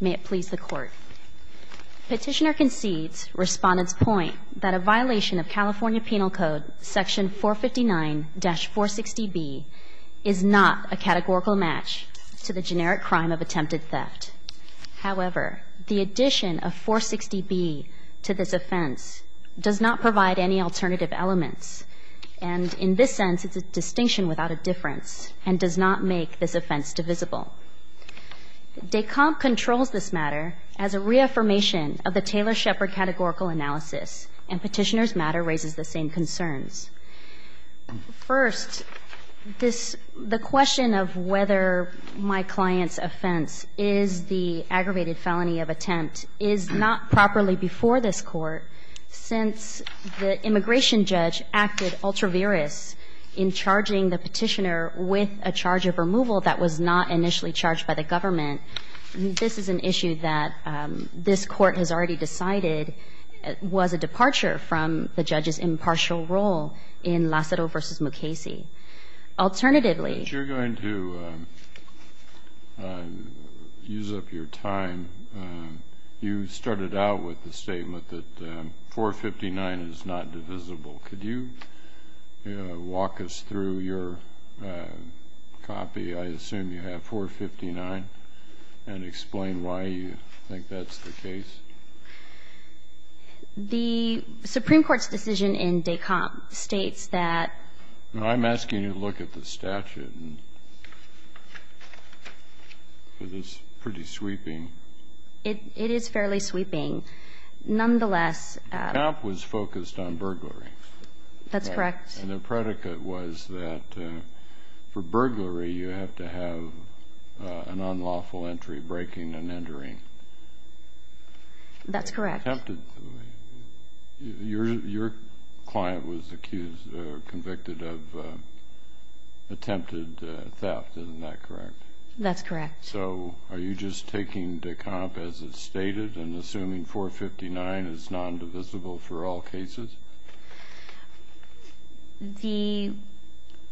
May it please the Court. Petitioner concedes, Respondent's point, that a violation of California Penal Code Section 459-460B is not a categorical match to the generic crime of attempted theft. However, the addition of 460B to this offense does not provide any alternative elements, and in this sense it's a distinction without a difference, and does not make this offense divisible. DECOMP controls this matter as a reaffirmation of the Taylor-Shepard categorical analysis, and Petitioner's matter raises the same concerns. First, this the question of whether my client's offense is the aggravated felony of attempt is not properly before this Court, since the immigration judge acted ultra-virous in charging the Petitioner with a charge of removal that was not initially charged by the government. This is an issue that this Court has already decided was a departure from the judge's impartial role in Lacero v. Mukasey. Alternatively Since you're going to use up your time, you started out with the statement that 459 is not divisible. Could you walk us through your copy, I assume you have 459, and explain why you think that's the case? The Supreme Court's decision in DECOMP states that I'm asking you to look at the statute. It is pretty sweeping. It is fairly sweeping. Nonetheless DECOMP was focused on burglary. That's correct. And the predicate was that for burglary you have to have an unlawful entry, breaking and entering. That's correct. Your client was accused or convicted of attempted theft, isn't that correct? That's correct. So are you just taking DECOMP as it's stated and assuming 459 is nondivisible for all cases? The,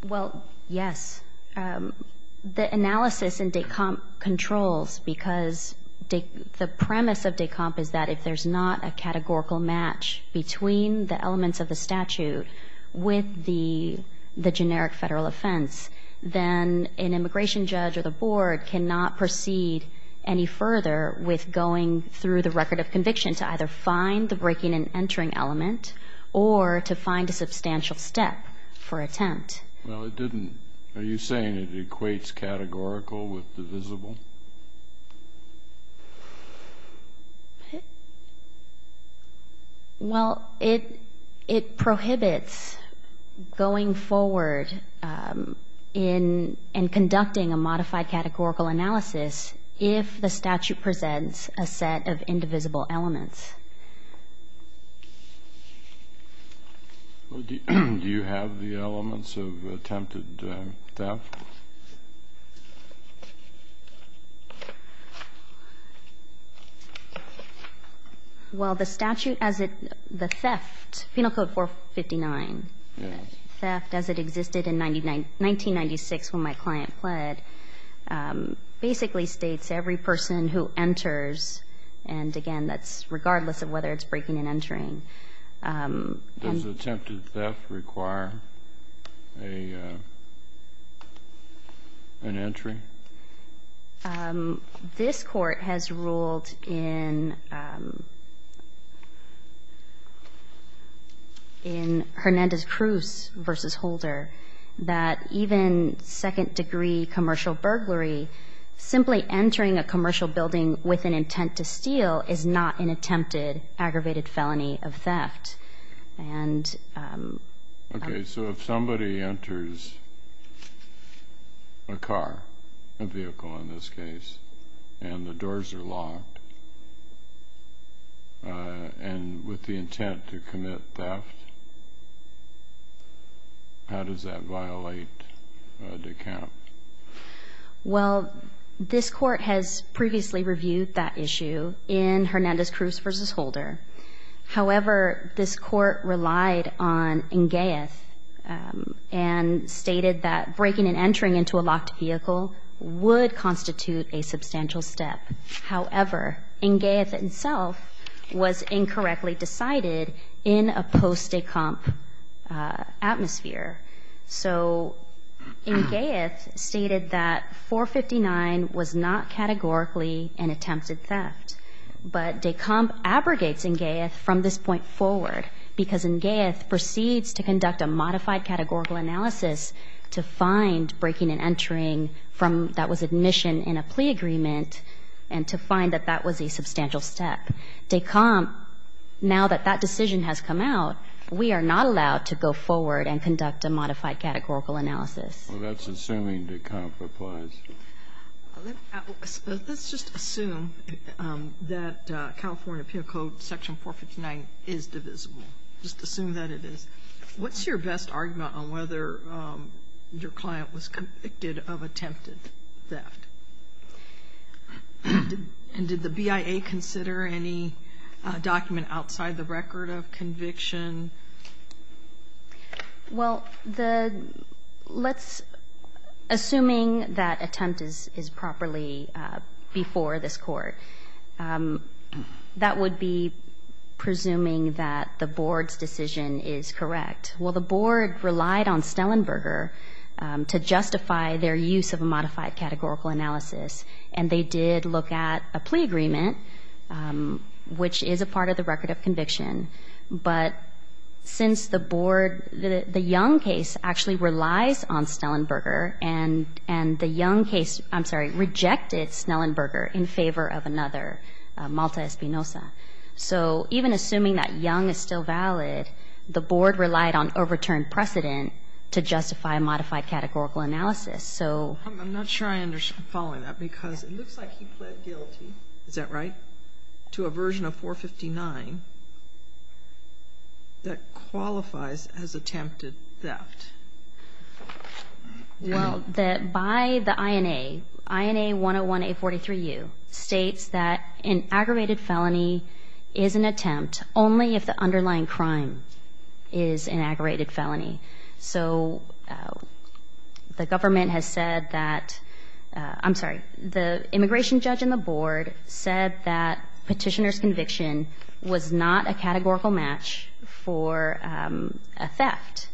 well, yes. The analysis in DECOMP controls because the premise of DECOMP is that if there's not a categorical match between the elements of the statute with the generic Federal offense, then an immigration judge or the board cannot proceed any further with going through the record of conviction to either find the breaking and entering element or to find a substantial step for attempt. Well, it didn't, are you saying it equates categorical with divisible? Well, it prohibits going forward in and conducting a modified categorical analysis if the statute presents a set of indivisible elements. Do you have the elements of attempted theft? Well, the statute as it, the theft, Penal Code 459, theft as it existed in 1996 when my client pled, basically states every person who enters, and again, that's regardless of whether it's breaking and entering. Does attempted theft require an entry? This Court has ruled in Hernandez-Cruz v. Holder that even second degree commercial burglary, simply entering a commercial building with an intent to steal is not an attempted aggravated felony of theft. Okay, so if somebody enters a car, a vehicle in this case, and the doors are locked, and with the intent to commit theft, how does that violate the count? Well, this Court has previously reviewed that issue in Hernandez-Cruz v. Holder. However, this Court relied on Ngeith and stated that breaking and entering into a locked vehicle would constitute a substantial step. However, Ngeith itself was incorrectly decided in a post-decomp atmosphere. So Ngeith stated that 459 was not categorically an attempted theft, but de comp abrogates Ngeith from this point forward because Ngeith proceeds to conduct a modified categorical analysis to find breaking and entering from that was admission in a plea agreement and to find that that was a substantial step. De comp, now that that decision has come out, we are not allowed to go forward and conduct a modified categorical analysis. Well, that's assuming de comp applies. Let's just assume that California Appeal Code Section 459 is divisible. Just assume that it is. What's your best argument on whether your client was convicted of attempted theft? And did the BIA consider any document outside the record of conviction? Well, let's, assuming that attempt is properly before this Court, that would be presuming that the Board's decision is correct. Well, the Board relied on Snellenberger to justify their use of a modified categorical analysis. And they did look at a plea agreement, which is a part of the record of conviction. But since the Board, the Young case actually relies on Snellenberger, and the Young case, I'm sorry, rejected Snellenberger in favor of another, Malta Espinosa. So even assuming that Young is still valid, the Board relied on overturned precedent to justify a modified categorical analysis. I'm not sure I'm following that, because it looks like he pled guilty, is that right, to a version of 459 that qualifies as attempted theft. Well, by the INA, INA 101-A43U states that an aggravated felony is an attempt only if the underlying crime is an aggravated felony. So the government has said that, I'm sorry, the immigration judge in the Board said that petitioner's conviction was not a categorical match for a theft.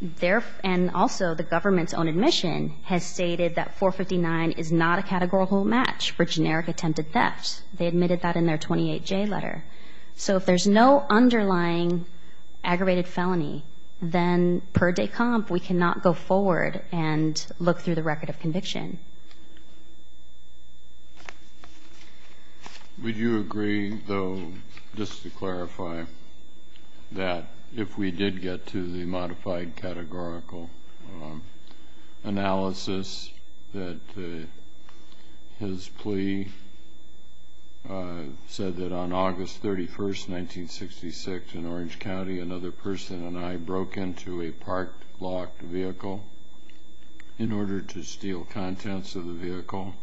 Their and also the government's own admission has stated that 459 is not a categorical match for generic attempted theft. They admitted that in their 28J letter. So if there's no underlying aggravated felony, then per de comp, we cannot go forward and look through the record of conviction. Would you agree, though, just to clarify, that if we did get to the modified categorical analysis, that his plea said that on August 31st, 1966, in Orange County, another person and I broke into a parked, locked vehicle in order to steal contents of the vehicle,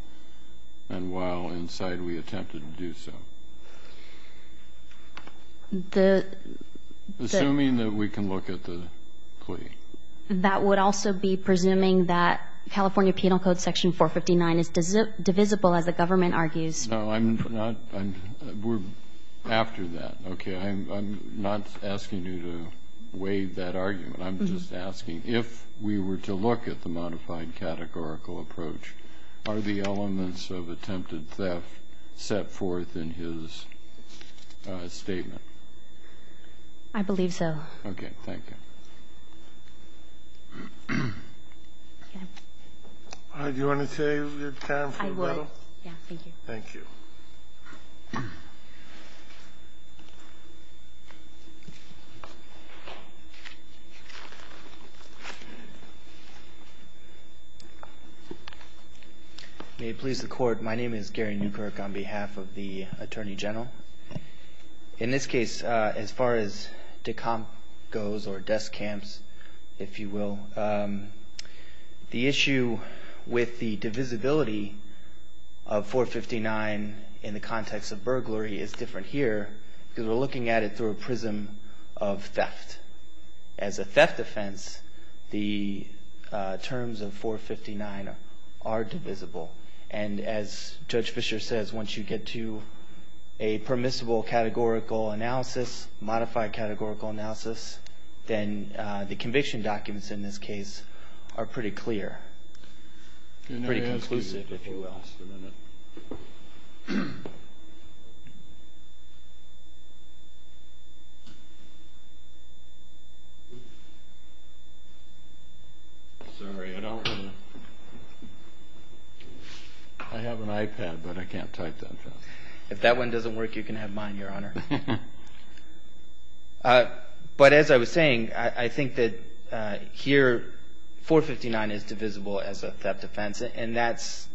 and while inside, we attempted to do so? Assuming that we can look at the plea. That would also be presuming that California Penal Code Section 459 is divisible, as the government argues. No, I'm not. We're after that. Okay? I'm not asking you to waive that argument. I'm just asking, if we were to look at the modified categorical approach, are the elements of attempted theft set forth in his statement? I believe so. Okay. Thank you. Do you want to take your time for a minute? I would. Yeah, thank you. Thank you. May it please the Court, my name is Gary Newkirk on behalf of the Attorney General. In this case, as far as decomp goes, or desk camps, if you will, the issue with the divisibility of 459 in the context of burglary is different here, because we're looking at it through a prism of theft. As a theft offense, the terms of 459 are divisible, and as Judge Fischer says, once you get to a permissible categorical analysis, modified categorical analysis, then the conviction documents in this case are pretty clear. Pretty conclusive, if you will. Sorry, I don't want to. I have an iPad, but I can't type that fast. If that one doesn't work, you can have mine, Your Honor. But as I was saying, I think that here 459 is divisible as a theft offense, and that's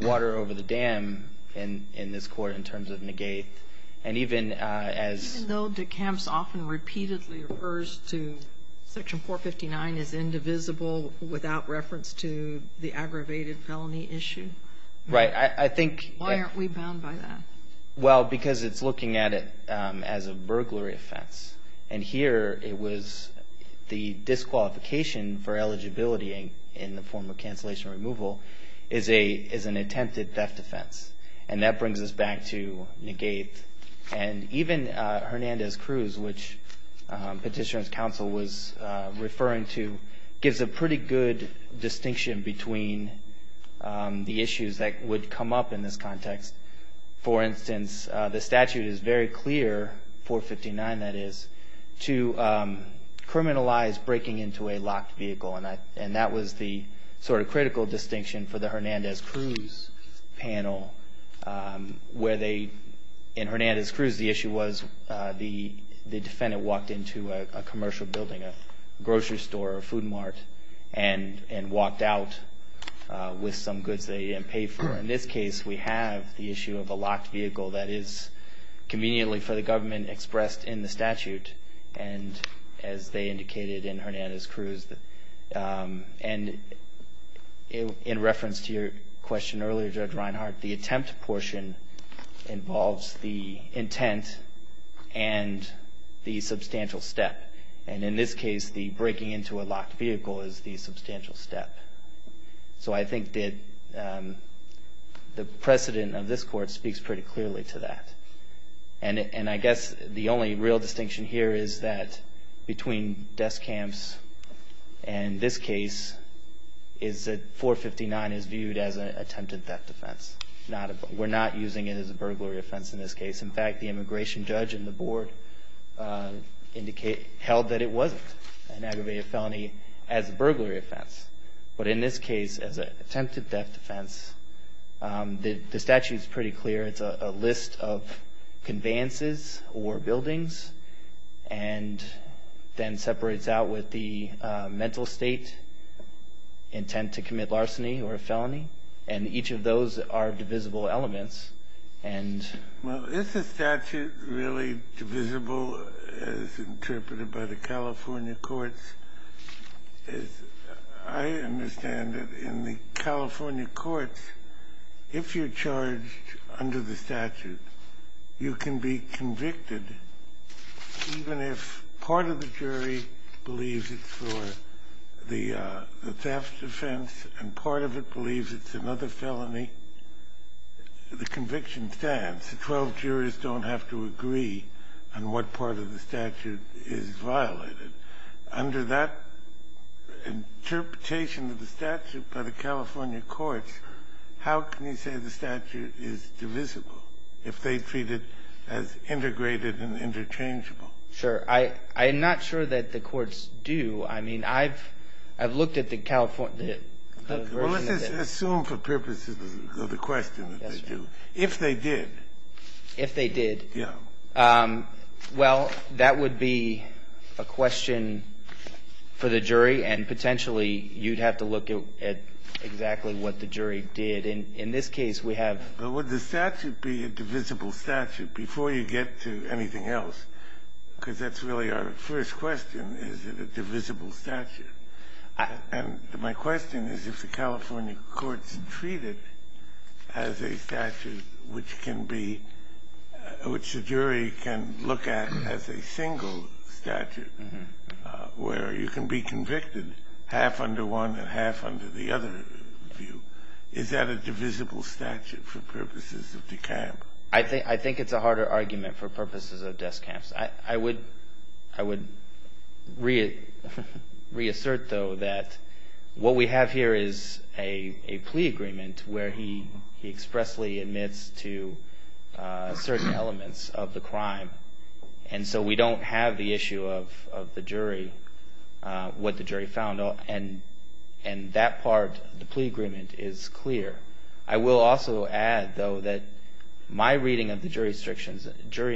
water over the dam in this court in terms of negate, and even as. Even though decamps often repeatedly refers to section 459 as indivisible without reference to the aggravated felony issue. Right. I think. Why aren't we bound by that? Well, because it's looking at it as a burglary offense, and here it was the disqualification for eligibility in the form of cancellation removal is an attempted theft offense, and that brings us back to negate. And even Hernandez-Cruz, which Petitioner's Counsel was referring to, gives a pretty good distinction between the issues that would come up in this context. For instance, the statute is very clear, 459 that is, to criminalize breaking into a locked vehicle, and that was the sort of critical distinction for the Hernandez-Cruz panel where they, in Hernandez-Cruz, the issue was the defendant walked into a commercial building, a commercial vehicle, and that was the issue. In this case, we have the issue of a locked vehicle that is conveniently for the government expressed in the statute, and as they indicated in Hernandez-Cruz, and in reference to your question earlier, Judge Reinhart, the attempt portion involves the intent and the substantial step, and in this case the breaking into a locked vehicle is the substantial step. The precedent of this court speaks pretty clearly to that. And I guess the only real distinction here is that between death camps and this case is that 459 is viewed as an attempted theft offense. We're not using it as a burglary offense in this case. In fact, the immigration judge in the board held that it wasn't an aggravated felony as a burglary offense. But in this case, as an attempted theft offense, the statute is pretty clear. It's a list of conveyances or buildings and then separates out with the mental state intent to commit larceny or a felony, and each of those are divisible elements. And the statute really divisible as interpreted by the California courts? I understand that in the California courts, if you're charged under the statute, you can be convicted even if part of the jury believes it's for the theft offense and part of it believes it's another felony. The conviction stands. Twelve jurors don't have to agree on what part of the statute is violated. Under that interpretation of the statute by the California courts, how can you say the statute is divisible if they treat it as integrated and interchangeable? Sure. I'm not sure that the courts do. I mean, I've looked at the California versions of it. Well, let's just assume for purposes of the question that they do. Yes, Your Honor. If they did. If they did. Yeah. Well, that would be a question for the jury, and potentially you'd have to look at exactly what the jury did. And in this case, we have the statute. But would the statute be a divisible statute before you get to anything else? Because that's really our first question, is it a divisible statute. And my question is, if the California courts treat it as a statute which can be – which the jury can look at as a single statute, where you can be convicted half under one and half under the other view, is that a divisible statute for purposes of the camp? I think it's a harder argument for purposes of death camps. I would reassert, though, that what we have here is a plea agreement where he expressly admits to certain elements of the crime. And so we don't have the issue of the jury, what the jury found. And that part of the plea agreement is clear. I will also add, though, that my reading of the jury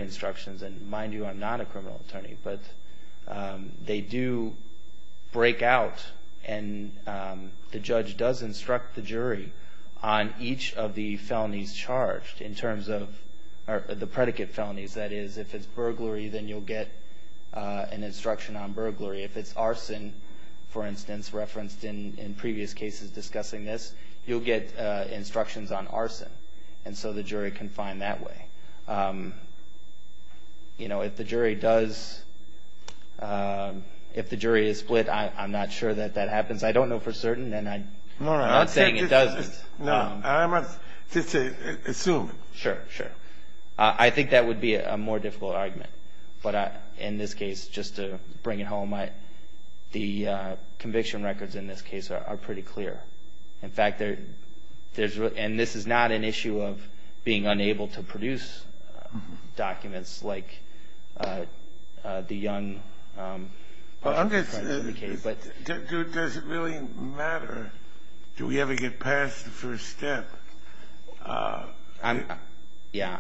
instructions – and mind you, I'm not a criminal attorney – but they do break out. And the judge does instruct the jury on each of the felonies charged in terms of – or the predicate felonies. That is, if it's burglary, then you'll get an instruction on burglary. If it's arson, for instance, referenced in previous cases discussing this, you'll get instructions on arson. And so the jury can find that way. You know, if the jury does – if the jury is split, I'm not sure that that happens. I don't know for certain, and I'm not saying it doesn't. No, I'm just assuming. Sure, sure. I think that would be a more difficult argument. But in this case, just to bring it home, the conviction records in this case are pretty clear. In fact, there's – and this is not an issue of being unable to produce documents like the young – Well, I'm just – does it really matter? Do we ever get past the first step? I'm – yeah.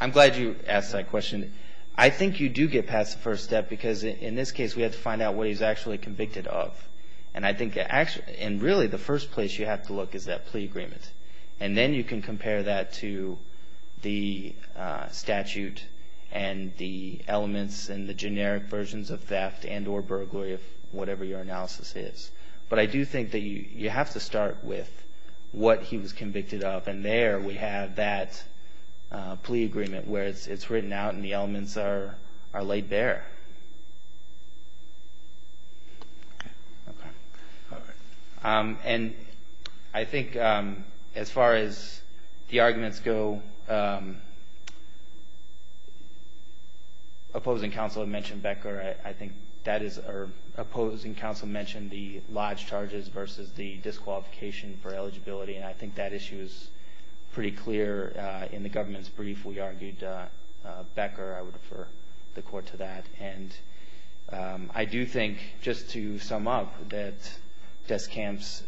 I'm glad you asked that question. I think you do get past the first step because in this case, we have to find out what he's actually convicted of. And I think – and really, the first place you have to look is that plea agreement. And then you can compare that to the statute and the elements and the generic versions of theft and or burglary of whatever your analysis is. But I do think that you have to start with what he was convicted of. And there we have that plea agreement where it's written out and the elements are laid bare. Okay. All right. And I think as far as the arguments go, opposing counsel had mentioned Becker. I think that is – or opposing counsel mentioned the lodge charges versus the disqualification for eligibility. And I think that issue is pretty clear. In the government's brief, we argued Becker. I would refer the court to that. And I do think, just to sum up, that desk camps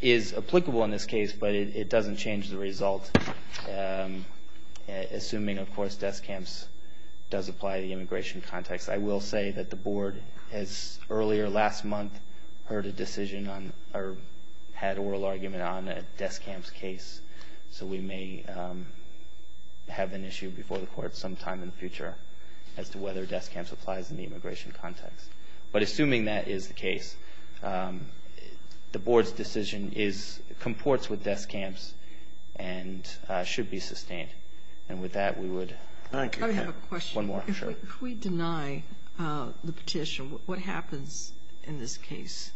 is applicable in this case, but it doesn't change the result, assuming, of course, desk camps does apply to the immigration context. I will say that the board has earlier last month heard a decision on – or had oral argument on a desk camps case. So we may have an issue before the court sometime in the future as to whether desk camps applies in the immigration context. But assuming that is the case, the board's decision is – comports with desk camps and should be sustained. And with that, we would – I have a question. One more, sure. If we deny the petition, what happens in this case?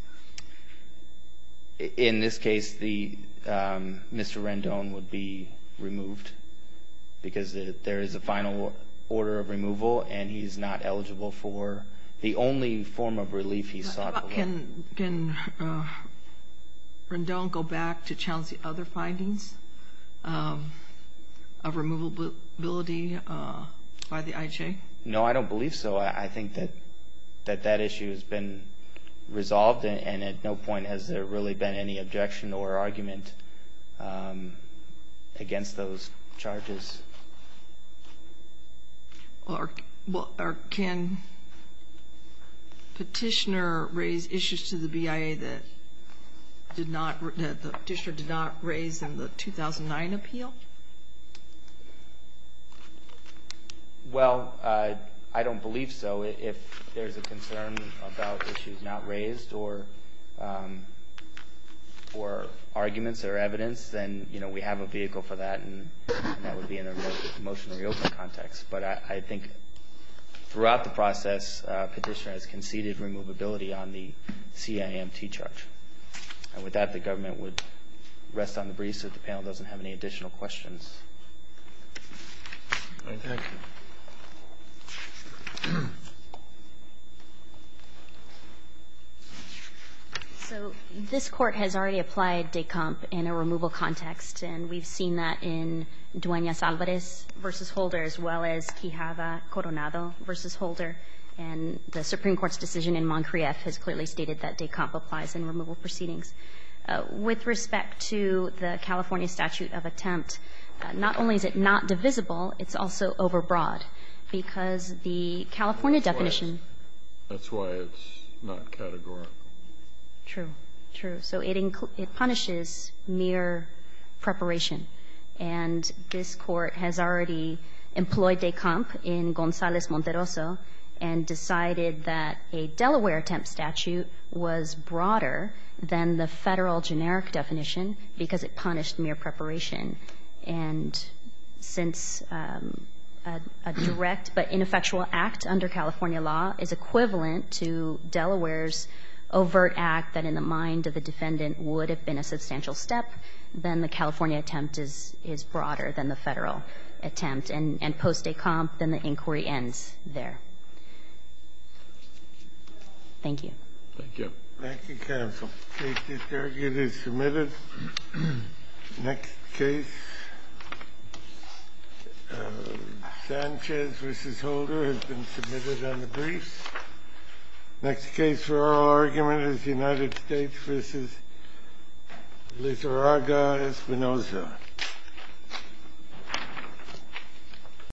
In this case, Mr. Rendon would be removed because there is a final order of removal and he's not eligible for the only form of relief he sought. Can Rendon go back to challenge the other findings of removability by the IJ? No, I don't believe so. I think that that issue has been resolved and at no point has there really been any objection or argument against those charges. Or can petitioner raise issues to the BIA that the petitioner did not raise in the 2009 appeal? Well, I don't believe so. If there's a concern about issues not raised or arguments or evidence, then we have a vehicle for that and that would be in a motion to reopen context. But I think throughout the process, petitioner has conceded removability on the CIMT charge. And with that, the government would rest on the breeze so that the panel doesn't have any additional questions. All right, thank you. So this Court has already applied DECOMP in a removal context, and we've seen that in Dueñas-Alvarez v. Holder as well as Quijada-Coronado v. Holder. And the Supreme Court's decision in Montcrieff has clearly stated that DECOMP applies in removal proceedings. With respect to the California statute of attempt, not only is it not divisible, it's also overbroad. Because the California definition That's why it's not categorical. True. True. So it punishes mere preparation. And this Court has already employed DECOMP in Gonzales-Monteroso and decided that a Delaware attempt statute was broader than the Federal generic definition because it punished mere preparation. And since a direct but ineffectual act under California law is equivalent to Delaware's overt act that in the mind of the defendant would have been a substantial step, then the California attempt is broader than the Federal attempt. And post DECOMP, then the inquiry ends there. Thank you. Thank you. Thank you, counsel. The case detergent is submitted. Next case. Sanchez v. Holder has been submitted on the briefs. Next case for oral argument is United States v. Lizarraga Espinosa.